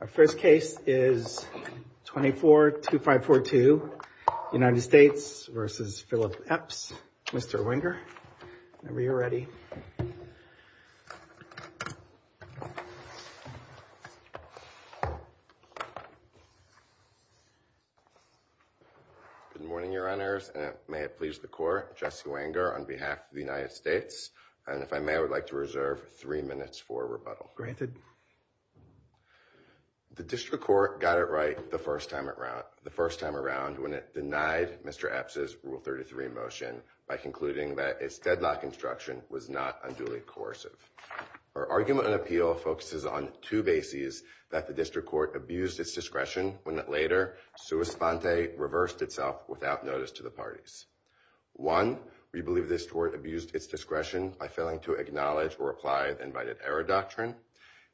Our first case is 24-2542 United States v. Philip Epps. Mr. Wenger, whenever you're ready. Good morning, your honors, and may it please the court, Jesse Wenger on behalf of the United The district court got it right the first time around when it denied Mr. Epps' Rule 33 motion by concluding that its deadlock instruction was not unduly coercive. Our argument and appeal focuses on two bases that the district court abused its discretion when it later sua sponte reversed itself without notice to the parties. One, we believe this court abused its discretion by failing to acknowledge or apply the invited error doctrine,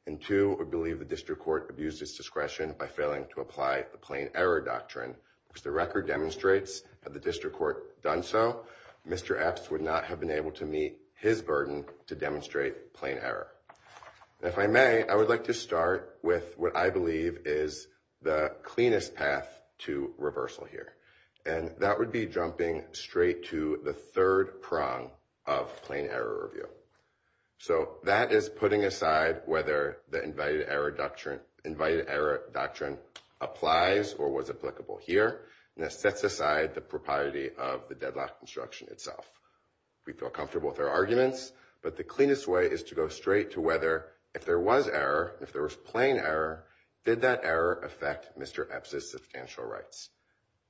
and two, we believe the district court abused its discretion by failing to apply the plain error doctrine. As the record demonstrates, had the district court done so, Mr. Epps would not have been able to meet his burden to demonstrate plain error. If I may, I would like to start with what I believe is the cleanest path to reversal here, and that would be jumping straight to the third prong of plain error review. So that is putting aside whether the invited error doctrine applies or was applicable here, and that sets aside the propriety of the deadlock instruction itself. We feel comfortable with our arguments, but the cleanest way is to go straight to whether if there was error, if there was plain error, did that error affect Mr. Epps' substantial rights?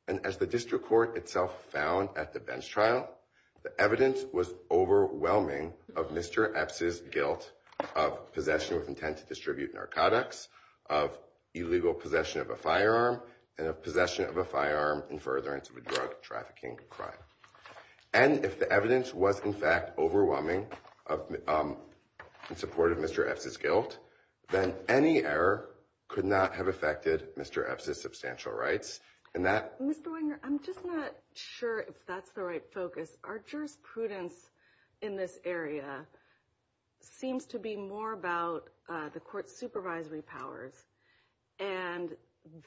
And as the district court itself found at the bench trial, the evidence was overwhelming of Mr. Epps' guilt of possession with intent to distribute narcotics, of illegal possession of a firearm, and of possession of a firearm in furtherance of a drug trafficking crime. And if the evidence was in fact overwhelming in support of Mr. Epps' guilt, then any error could not have affected Mr. Epps' substantial rights. Mr. Wenger, I'm just not sure if that's the right focus. Our jurisprudence in this area seems to be more about the court's supervisory powers, and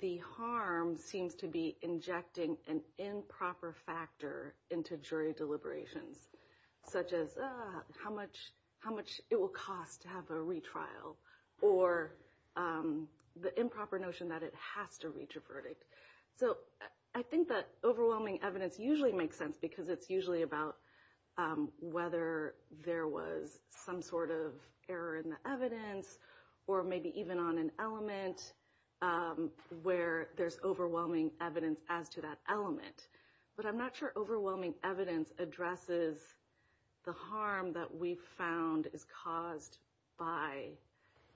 the harm seems to be injecting an improper factor into jury deliberations, such as how much it will cost to have a retrial, or the improper notion that it has to reach a verdict. So I think that overwhelming evidence usually makes sense because it's usually about whether there was some sort of error in the evidence, or maybe even on an element where there's overwhelming evidence as to that element. But I'm not sure overwhelming evidence addresses the harm that we've found is caused by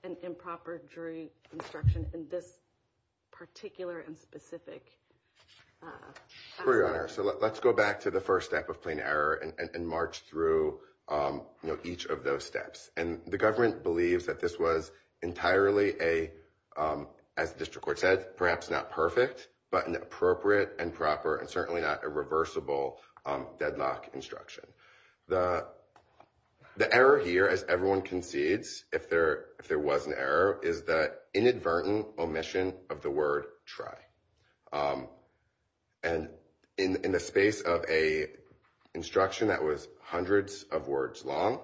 an improper jury instruction in this particular and specific aspect. So let's go back to the first step of plain error and march through each of those steps. And the government believes that this was entirely a, as the district court said, perhaps not perfect, but an appropriate and proper and certainly not irreversible deadlock instruction. The error here, as everyone concedes if there was an error, is the inadvertent omission of the word try. And in the space of a instruction that was hundreds of words long,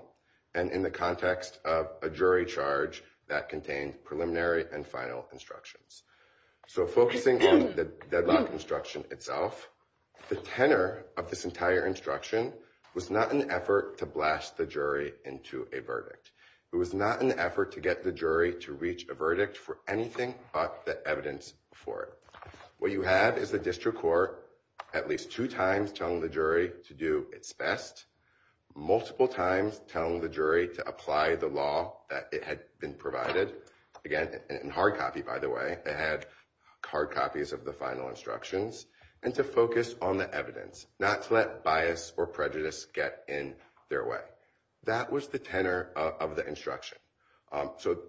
and in the context of a jury charge that contained preliminary and final instructions. So focusing on the deadlock instruction itself, the tenor of this entire instruction was not an effort to blast the jury into a verdict. It was not an effort to get the jury to reach a verdict for anything but the evidence for it. What you have is the district court at least two times telling the jury to do its best, multiple times telling the jury to apply the law that it had been provided. Again, in hard copy by the way, they had hard copies of the final instructions, and to focus on the evidence, not to let bias or prejudice get in their way. That was the tenor of the instruction. So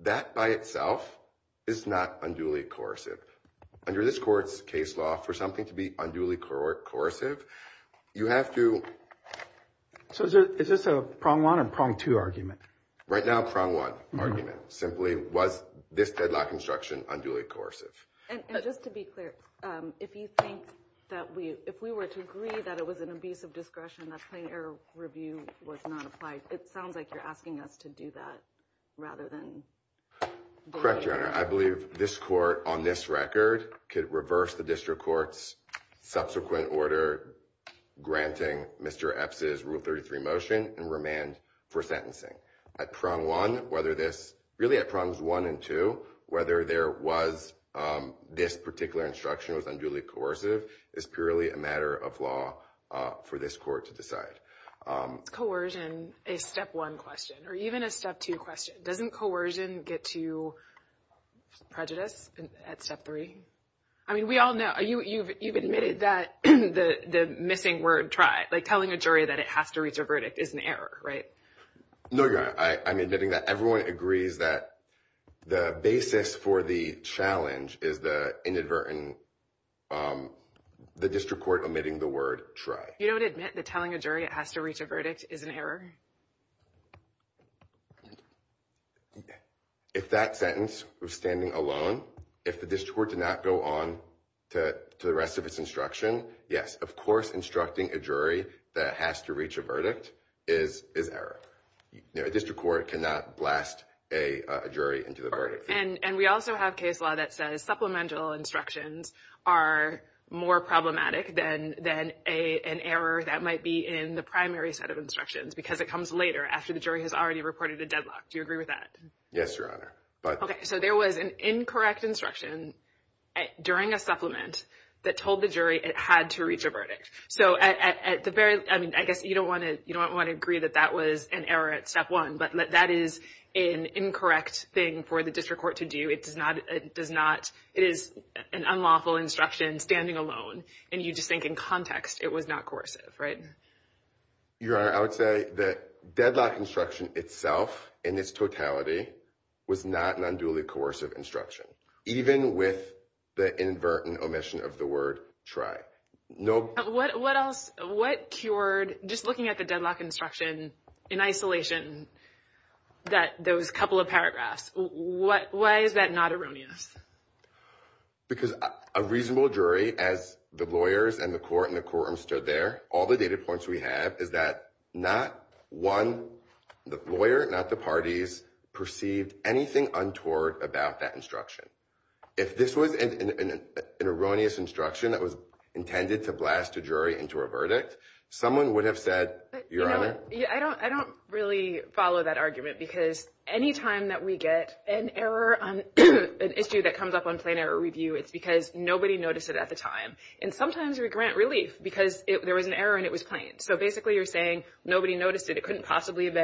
that by itself is not unduly coercive. Under this court's case law, for something to be unduly coercive, you have to... So is this a prong one or prong two argument? Right now, prong one argument. Simply, was this deadlock instruction unduly coercive? And just to be clear, if you think that we, if we were to agree that it was an abusive discretion that plain error review was not applied, it sounds like you're asking us to do that rather than... Correct, Your Honor. I believe this court on this record could reverse the district court's subsequent order granting Mr. Epps' Rule 33 motion and remand for sentencing. At prong one, whether this, really at prongs one and two, whether there was this particular instruction was unduly coercive is purely a matter of law for this court to decide. Coercion, a step one question, or even a step two question, doesn't coercion get to prejudice at step three? I mean, we all know, you've admitted that the missing word, try, like telling a jury that it has to reach a verdict is an error, right? No, Your Honor. I'm admitting that everyone agrees that the basis for the challenge is the inadvertent, the district court omitting the word try. You don't admit that telling a jury it has to reach a verdict is an error? If that sentence was standing alone, if the district court did not go on to the rest of its instruction, yes, of course instructing a jury that it has to reach a verdict is error. A district court cannot blast a jury into the verdict. And we also have case law that says supplemental instructions are more problematic than an error that might be in the primary set instructions because it comes later after the jury has already reported a deadlock. Do you agree with that? Yes, Your Honor. Okay. So there was an incorrect instruction during a supplement that told the jury it had to reach a verdict. So at the very, I mean, I guess you don't want to agree that that was an error at step one, but that is an incorrect thing for the district court to do. It is an unlawful instruction standing alone. And you just think in context, it was not coercive, right? Your Honor, I would say the deadlock instruction itself in its totality was not an unduly coercive instruction, even with the inadvertent omission of the word try. What else, what cured, just looking at the deadlock instruction in isolation, that those couple of paragraphs, why is that not erroneous? Because a reasonable jury, as the lawyers and the court and the courtroom stood there, the data points we have is that not one, the lawyer, not the parties perceived anything untoward about that instruction. If this was an erroneous instruction that was intended to blast a jury into a verdict, someone would have said, Your Honor. I don't really follow that argument because anytime that we get an error on an issue that comes up on plain error review, it's because nobody noticed it at the time. And sometimes we grant relief because there was an error and it was plain. So basically you're saying nobody noticed it, it couldn't possibly have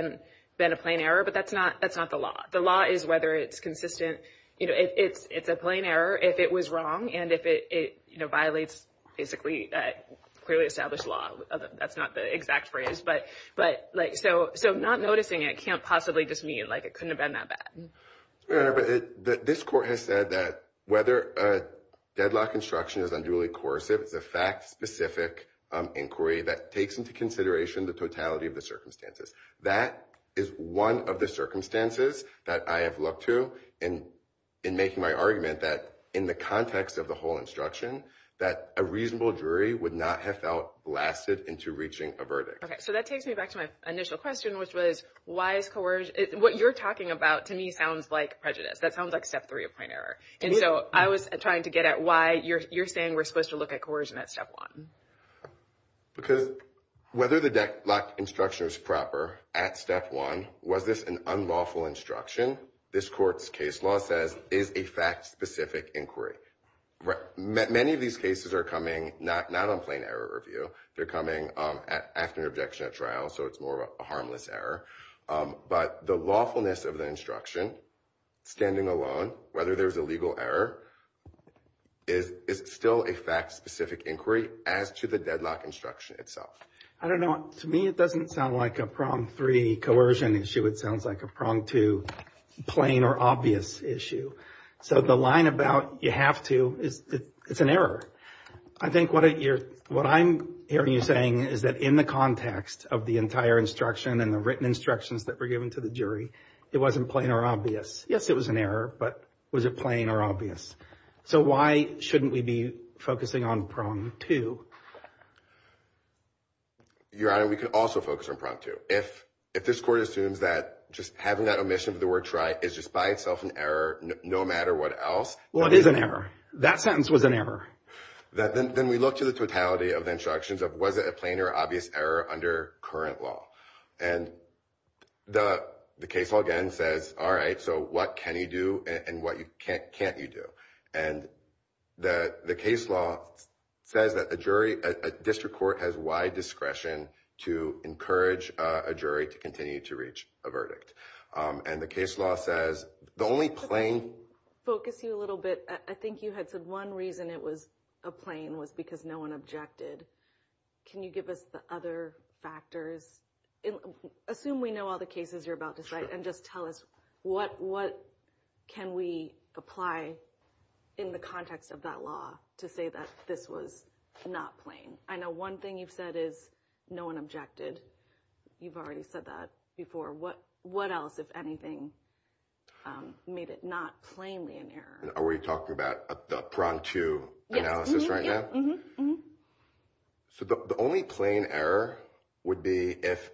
been a plain error, but that's not the law. The law is whether it's consistent. It's a plain error if it was wrong and if it violates basically clearly established law. That's not the exact phrase. So not noticing it can't possibly just mean it couldn't have been that bad. Your Honor, but this court has said that whether a deadlock instruction is unduly coercive, it's a fact-specific inquiry that takes into consideration the totality of the circumstances. That is one of the circumstances that I have looked to in making my argument that in the context of the whole instruction, that a reasonable jury would not have felt blasted into reaching a verdict. Okay, so that sounds like prejudice. That sounds like step three of plain error. And so I was trying to get at why you're saying we're supposed to look at coercion at step one. Because whether the deadlock instruction is proper at step one, was this an unlawful instruction, this court's case law says is a fact-specific inquiry. Many of these cases are coming not on plain error review. They're coming after an objection at trial, so it's more of a harmless error. But the lawfulness of the instruction, standing alone, whether there's a legal error, is still a fact-specific inquiry as to the deadlock instruction itself. I don't know, to me it doesn't sound like a prong three coercion issue. It sounds like a prong two plain or obvious issue. So the line about you have to is it's an error. I think what I'm hearing you saying is that in the context of the entire instruction and the written instructions that were given to the jury, it wasn't plain or obvious. Yes, it was an error, but was it plain or obvious? So why shouldn't we be focusing on prong two? Your Honor, we could also focus on prong two. If this court assumes that just having that omission of the word try is just by itself an error, no matter what else. Well, it is an error. That sentence was an error. Then we look to the totality of the instructions of was it a plain? And the case law again says, all right, so what can you do and what can't you do? And the case law says that a jury, a district court, has wide discretion to encourage a jury to continue to reach a verdict. And the case law says the only plain... Focus you a little bit. I think you had said one reason it was a plain was because no one objected. Can you give us the other factors? Assume we know all the cases you're about to cite and just tell us what can we apply in the context of that law to say that this was not plain? I know one thing you've said is no one objected. You've already said that before. What else, if anything, made it not plainly an error? Are we talking about the prong two analysis right now? Mm-hmm. So the only plain error would be if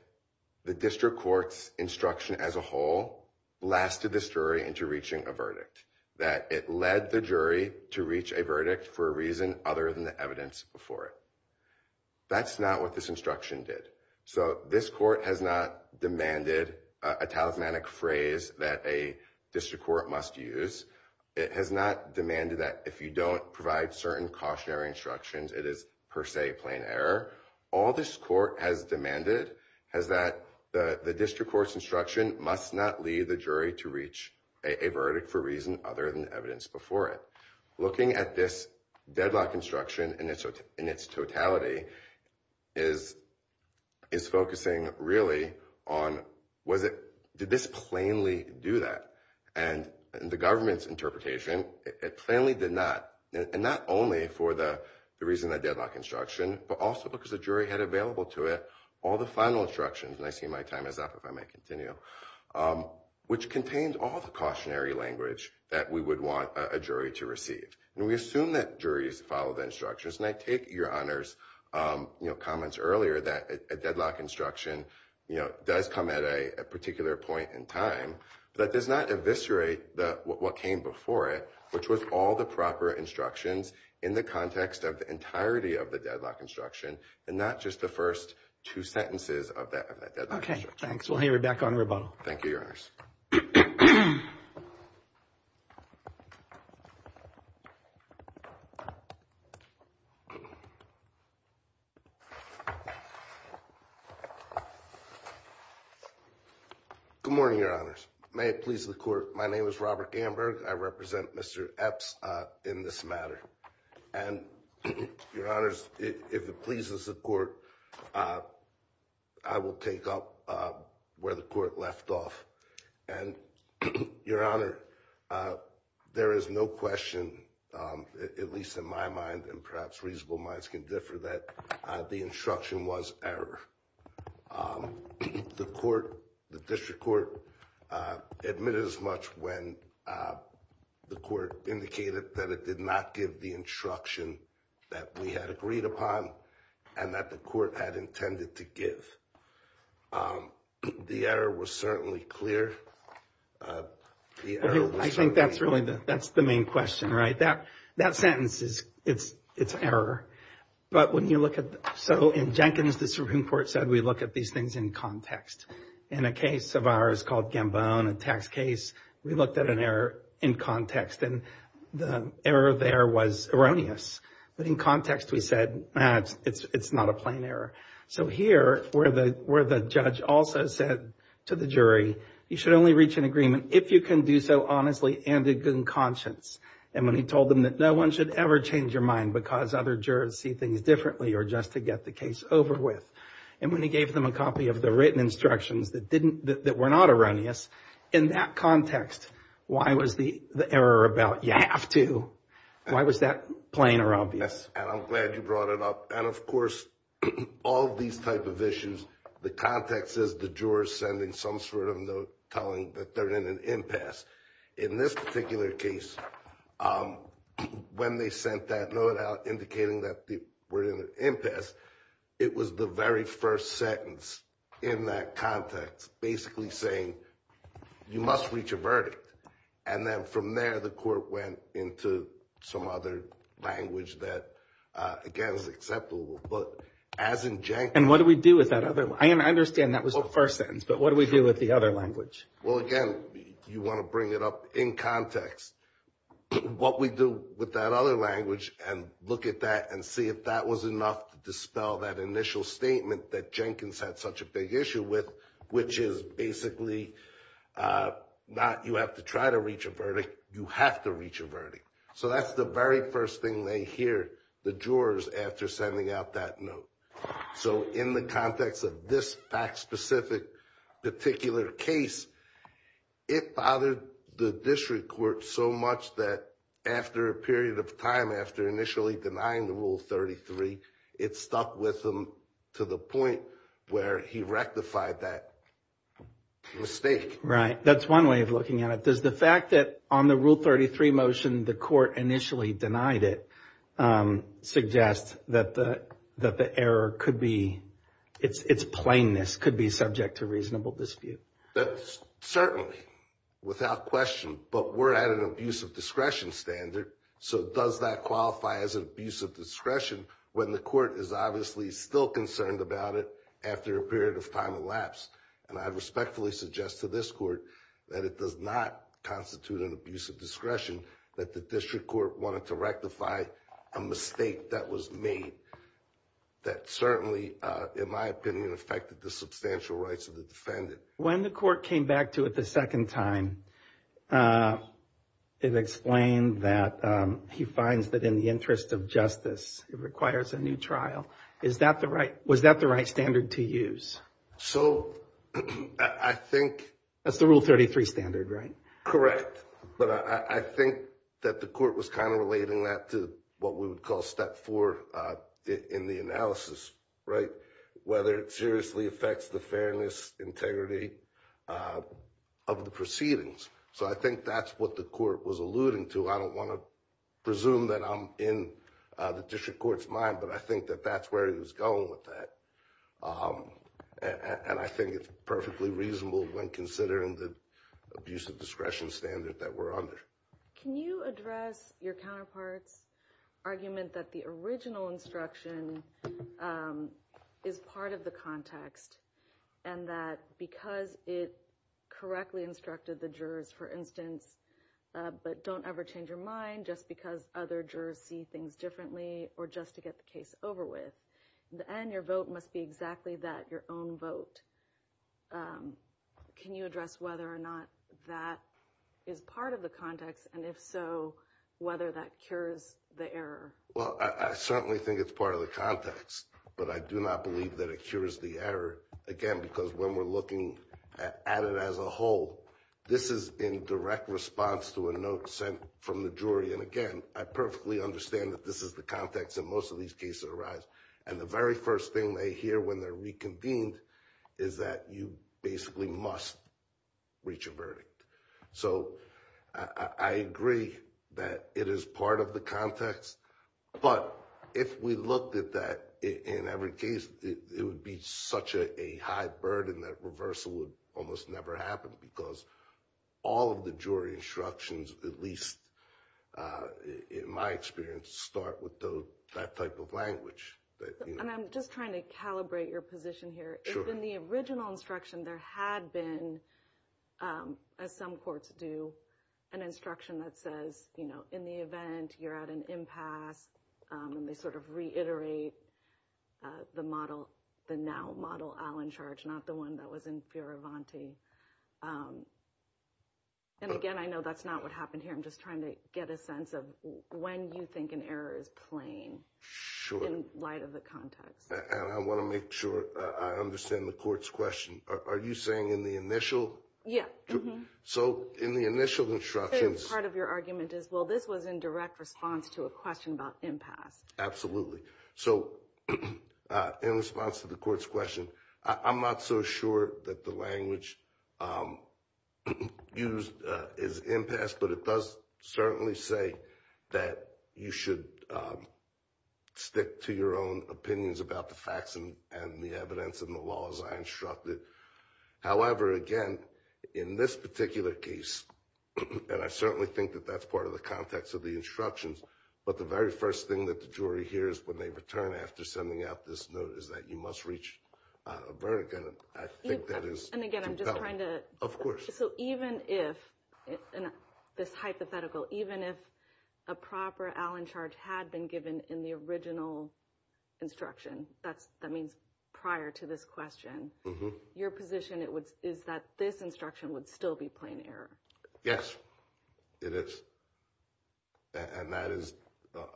the district court's instruction as a whole lasted this jury into reaching a verdict. That it led the jury to reach a verdict for a reason other than the evidence before it. That's not what this instruction did. So this court has not demanded a talismanic phrase that a district court must use. It has not demanded that if you don't provide certain cautionary instructions, it is per se plain error. All this court has demanded is that the district court's instruction must not lead the jury to reach a verdict for reason other than evidence before it. Looking at this deadlock instruction in its totality is focusing really on did this plainly do that? And the government's interpretation, it plainly did not. And not only for the reason of the deadlock instruction, but also because the jury had available to it all the final instructions. And I see my time is up if I may continue. Which contained all the cautionary language that we would want a jury to receive. And we assume that juries follow the instructions. And I take your honor's comments earlier that a deadlock instruction does come at a particular point in time, but it does not eviscerate what came before it, which was all the proper instructions in the context of the entirety of the deadlock instruction and not just the first two sentences of that. Okay, thanks. We'll hear you back on rebuttal. Thank you, Your Honor. Good morning, Your Honors. May it please the court. My name is Robert Gamberg. I represent Mr. Epps in this matter. And Your Honors, if it pleases the court, I will take up where the court left off. And Your Honor, there is no question, at least in my mind, and perhaps reasonable minds can differ, that the instruction was error. The court, the district court admitted as much when the court indicated that it did not give the instruction that we had the error was certainly clear. I think that's really the, that's the main question, right? That sentence is, it's error. But when you look at, so in Jenkins, the Supreme Court said we look at these things in context. In a case of ours called Gambone, a tax case, we looked at an error in context and the error there was erroneous. But in context, we said, it's not a plain error. So here, where the judge also said to the jury, you should only reach an agreement if you can do so honestly and in good conscience. And when he told them that no one should ever change your mind because other jurors see things differently or just to get the case over with. And when he gave them a copy of the written instructions that didn't, that were not erroneous, in that context, why was the error about you have to? Why was that plain or obvious? And I'm glad you brought it up. And of course, all these type of issues, the context is the jurors sending some sort of note telling that they're in an impasse. In this particular case, when they sent that note out indicating that they were in an impasse, it was the very first sentence in that context, basically saying, you must reach a verdict. And then from there, the court went into some other language that, again, is acceptable. But as in Jenkins... And what do we do with that other? I understand that was the first sentence, but what do we do with the other language? Well, again, you want to bring it up in context. What we do with that other language and look at that and see if that was enough to dispel that initial statement that Jenkins had such a big issue with, which is basically not you have to try to reach a verdict, you have to reach a verdict. So that's the very first thing they hear, the jurors, after sending out that note. So in the context of this fact-specific particular case, it bothered the district court so much that after a period of time, after initially denying the Rule 33, it stuck with them to the point where he rectified that mistake. Right. That's one way of looking at it. Does the fact that on the Rule 33 motion, the court initially denied it suggest that the error could be... Its plainness could be subject to reasonable dispute? That's certainly without question, but we're at an abuse of discretion standard. So does that qualify as an abuse of discretion when the court is obviously still concerned about after a period of time elapsed? And I respectfully suggest to this court that it does not constitute an abuse of discretion, that the district court wanted to rectify a mistake that was made that certainly, in my opinion, affected the substantial rights of the defendant. When the court came back to it the second time, it explained that he finds that in the interest of justice, it requires a new trial. Is that the right, was that the right standard to use? So I think... That's the Rule 33 standard, right? Correct. But I think that the court was kind of relating that to what we would call step four in the analysis, right? Whether it seriously affects the fairness, integrity of the proceedings. So I think that's what the court was alluding to. I don't want to presume that I'm in the district court's mind, but I think that that's where he was going with that. And I think it's perfectly reasonable when considering the abuse of discretion standard that we're under. Can you address your counterpart's argument that the original instruction is part of the context, and that because it correctly instructed the jurors, for instance, but don't ever change your mind just because other jurors see things differently, or just to get the case over with. In the end, your vote must be exactly that, your own vote. Can you address whether or not that is part of the context, and if so, whether that cures the error? Well, I certainly think it's part of the context, but I do not believe that it cures the error. Again, because when we're looking at it as a whole, this is in direct response to a note sent from the jury. And again, I perfectly understand that this is the context that most of these cases arise. And the very first thing they hear when they're reconvened is that you basically must reach a verdict. So I agree that it is part of the context, but if we looked at that in every case, it would be such a high burden that reversal would almost never happen, because all of the jury instructions, at least in my experience, start with that type of language. And I'm just trying to calibrate your position here. If in the original instruction there had been, as some courts do, an instruction that says, in the event you're at an impasse, and they sort of reiterate the now-model Allen charge, not the one that was in Fioravanti. And again, I know that's not what happened here. I'm just trying to get a sense of when you think an error is plain in light of the context. And I want to make sure I understand the court's question. Are you saying in the initial? Yeah. So in the initial instructions... Part of your argument is, well, this was in direct response to a question about impasse. Absolutely. So in response to the court's question, I'm not so sure that the language used is impasse, but it does certainly say that you should stick to your own opinions about the facts and the evidence and the laws I instructed. However, again, in this particular case, and I certainly think that that's part of the context of the instructions, but the very first thing that the jury hears when they return after sending out this note is that you must reach a verdict. And I think that is... And again, I'm just trying to... So even if, this hypothetical, even if a proper Allen charge had been given in the original instruction, that means prior to this question, your position is that this instruction would still be plain error. Yes, it is. And that is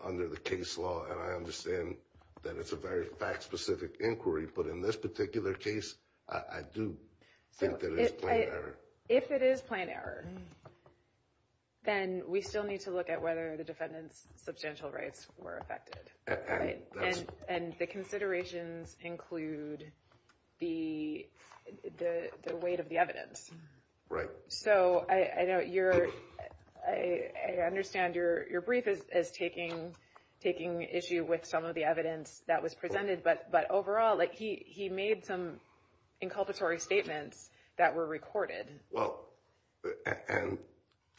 under the case law. And I understand that it's a very fact-specific inquiry, but in this particular case, I do think that it is plain error. If it is plain error, then we still need to look at whether the defendant's substantial rights were affected, right? And the considerations include the weight of the evidence. Right. So I understand your brief is taking issue with some of the evidence that was presented, but overall, he made some inculpatory statements that were recorded. Well, and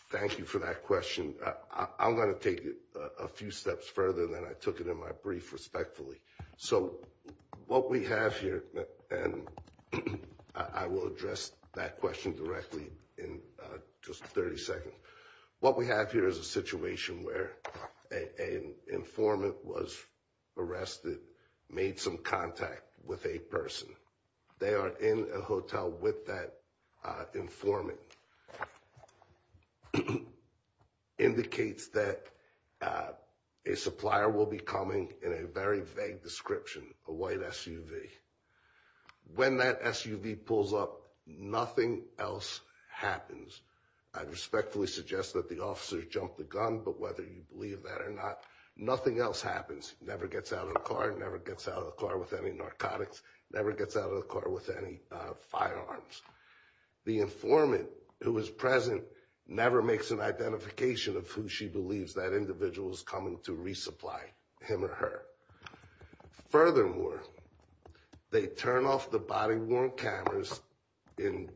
thank you for that question. I'm going to take it a few steps further than I took it in my brief, respectfully. So what we have here, and I will address that question directly in just 30 seconds. What we have here is a situation where an informant was arrested, made some contact with a person. They are in a hotel with that informant. And that informant indicates that a supplier will be coming in a very vague description, a white SUV. When that SUV pulls up, nothing else happens. I'd respectfully suggest that the officer jumped the gun, but whether you believe that or not, nothing else happens, never gets out of the car, never gets out of the car with any narcotics, never gets out of the car with any firearms. The informant who was present never makes an identification of who she believes that individual is coming to resupply him or her. Furthermore, they turn off the body-worn cameras in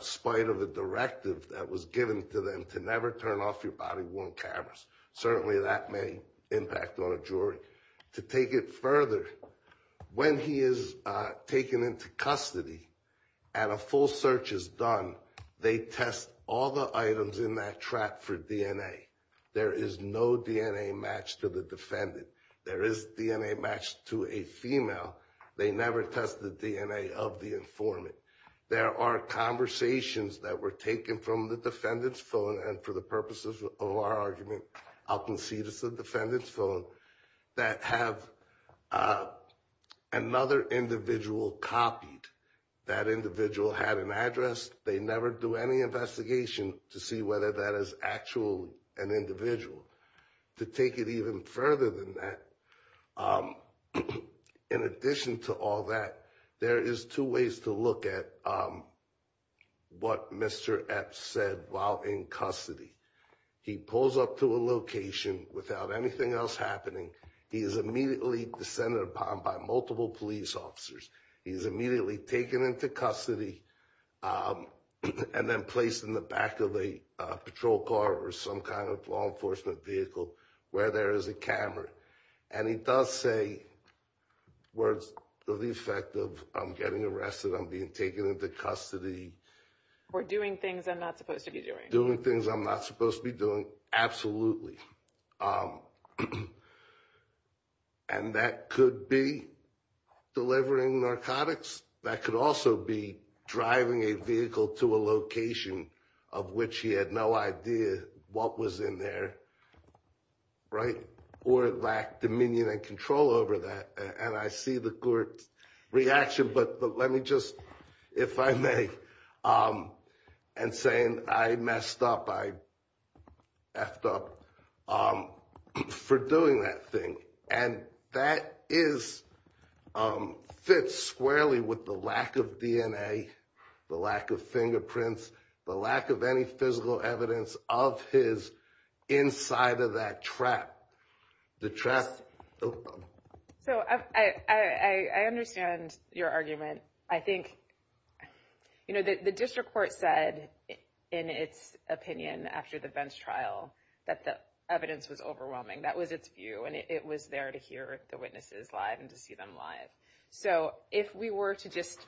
spite of the directive that was given to them to never turn off your body-worn cameras. Certainly that may impact on a jury. To take it further, when he is taken into custody and a full search is done, they test all the items in that track for DNA. There is no DNA match to the defendant. There is DNA match to a female. They never test the DNA of the informant. There are conversations that were taken from the defendant's phone, and for the purposes of our argument, I'll concede it's the defendant's phone, that have another individual copied. That individual had an address. They never do any investigation to see whether that is actually an individual. To take it even further than that, in addition to all that, there is two ways to look at what Mr. Epps said while in custody. He pulls up to a location without anything else happening. He is immediately descended upon by multiple police officers. He is immediately taken into custody and then placed in the back of a patrol car or some kind of law enforcement vehicle where there is a camera, and he does say words to the effect of, I'm getting arrested. I'm being taken into custody. Or doing things I'm not supposed to be doing. Doing things I'm not supposed to be doing, absolutely. And that could be delivering narcotics. That could also be driving a vehicle to a location of which he had no idea what was in there, right? Or it lacked dominion and control over that. And I see the court's reaction, but let me just, if I may, and saying I messed up, I effed up for doing that thing. And that fits squarely with the lack of DNA, the lack of fingerprints, the lack of any physical evidence of his inside of that trap. The trap. So I understand your argument. I think, you know, the district court said in its opinion after the Vence trial that the evidence was overwhelming. That was its view, and it was there to hear the witnesses live and to see them live. So if we were to just,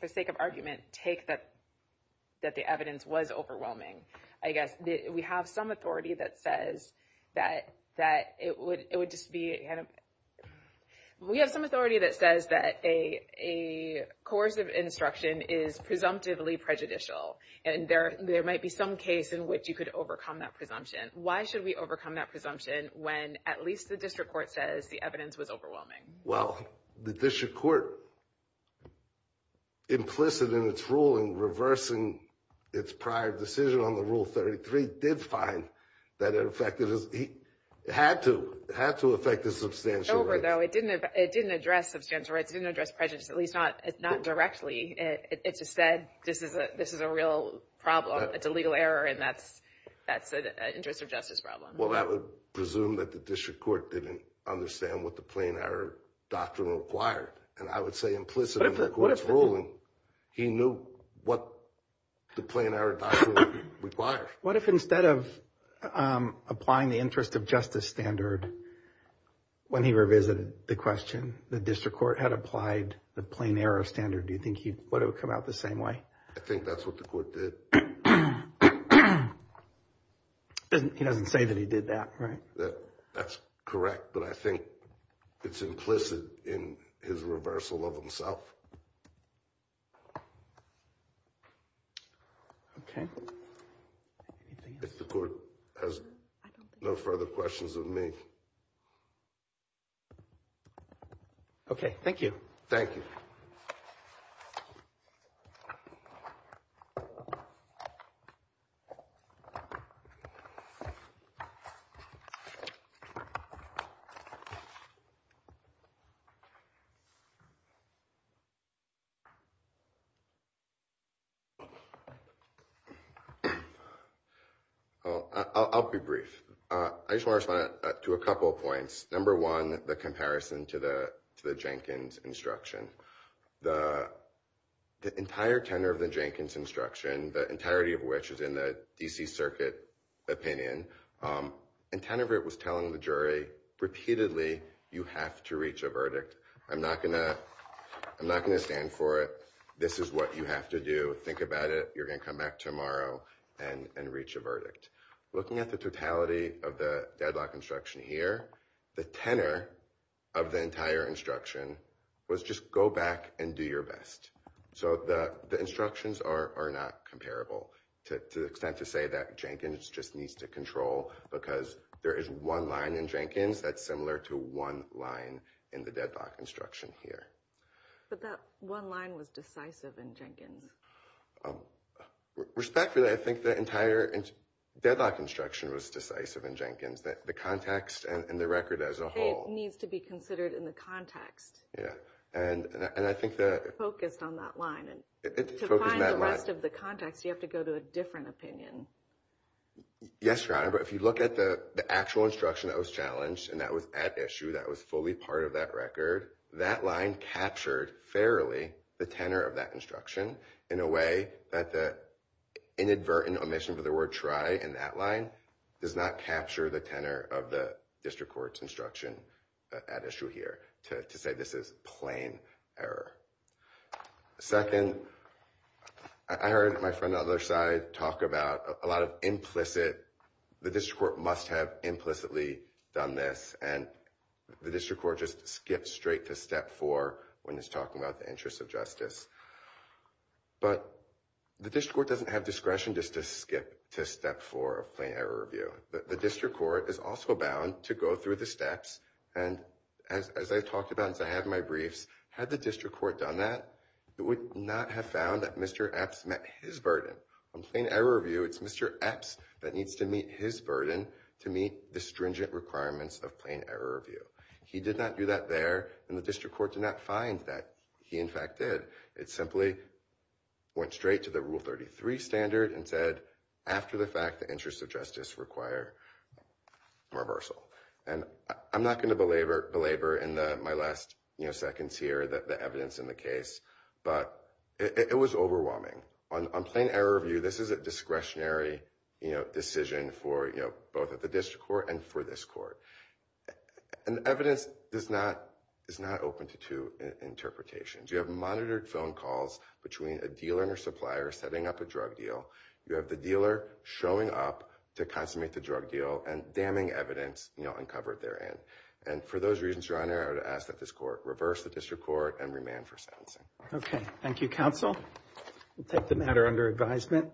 for sake of argument, take that the evidence was overwhelming, I guess we have some authority that says that it would just be, we have some authority that says that a coercive instruction is presumptively prejudicial. And there might be some case in which you could overcome that presumption. Why should we overcome that presumption when at least the district court, implicit in its ruling, reversing its prior decision on the Rule 33, did find that it affected his, it had to, it had to affect his substantial rights. It's over, though. It didn't address substantial rights. It didn't address prejudice, at least not directly. It just said this is a real problem. It's a legal error, and that's an interest of justice problem. Well, that would presume that the district court didn't understand what the plain error doctrine required. And I would say implicitly in the court's ruling, he knew what the plain error doctrine required. What if instead of applying the interest of justice standard when he revisited the question, the district court had applied the plain error standard? Do you think he would have come out the same way? I think that's what the court did. He doesn't say that he did that, right? That's correct, but I think it's implicit in his reversal of himself. Okay. If the court has no further questions of me. Okay, thank you. Thank you. Oh, I'll be brief. I just want to respond to a couple of points. Number one, the comparison to the Jenkins instruction. The entire tenor of the Jenkins instruction, the entirety of which is in DC Circuit opinion, and tenor of it was telling the jury repeatedly, you have to reach a verdict. I'm not going to stand for it. This is what you have to do. Think about it. You're going to come back tomorrow and reach a verdict. Looking at the totality of the deadlock instruction here, the tenor of the entire instruction was just go back and do your best. So the instructions are not comparable to the extent to say that Jenkins just needs to control because there is one line in Jenkins that's similar to one line in the deadlock instruction here. But that one line was decisive in Jenkins. Respectfully, I think the entire deadlock instruction was decisive in Jenkins. The context and the record as a whole. It needs to be considered in the context. Yeah, and I think that... To find the rest of the context, you have to go to a different opinion. Yes, Your Honor. But if you look at the actual instruction that was challenged, and that was at issue, that was fully part of that record, that line captured fairly the tenor of that instruction in a way that the inadvertent omission for the word try in that line does not capture the tenor of the district court's instruction at issue here to say this is plain error. Second, I heard my friend on the other side talk about a lot of implicit... The district court must have implicitly done this, and the district court just skipped straight to step four when he's talking about the interest of justice. But the district court doesn't have discretion just to skip to step four of plain error review. The district court is also bound to go through the steps. And as I talked about, as I had my briefs, had the district court done that, it would not have found that Mr. Epps met his burden. On plain error review, it's Mr. Epps that needs to meet his burden to meet the stringent requirements of plain error review. He did not do that there, and the district court did not find that he, in fact, did. It simply went straight to the Rule 33 standard and said, after the fact, the interests of justice require reversal. And I'm not going to belabor in my last seconds here the evidence in the case. But it was overwhelming. On plain error review, this is a discretionary decision for both of the district court and for this court. And evidence is not open to two interpretations. You have monitored phone calls between a dealer and a supplier setting up a drug deal. You have the dealer showing up to consummate the drug deal and damning evidence uncovered therein. And for those reasons, your honor, I would ask that this court reverse the district court and remand for sentencing. Okay, thank you, counsel. We'll take the matter under advisement.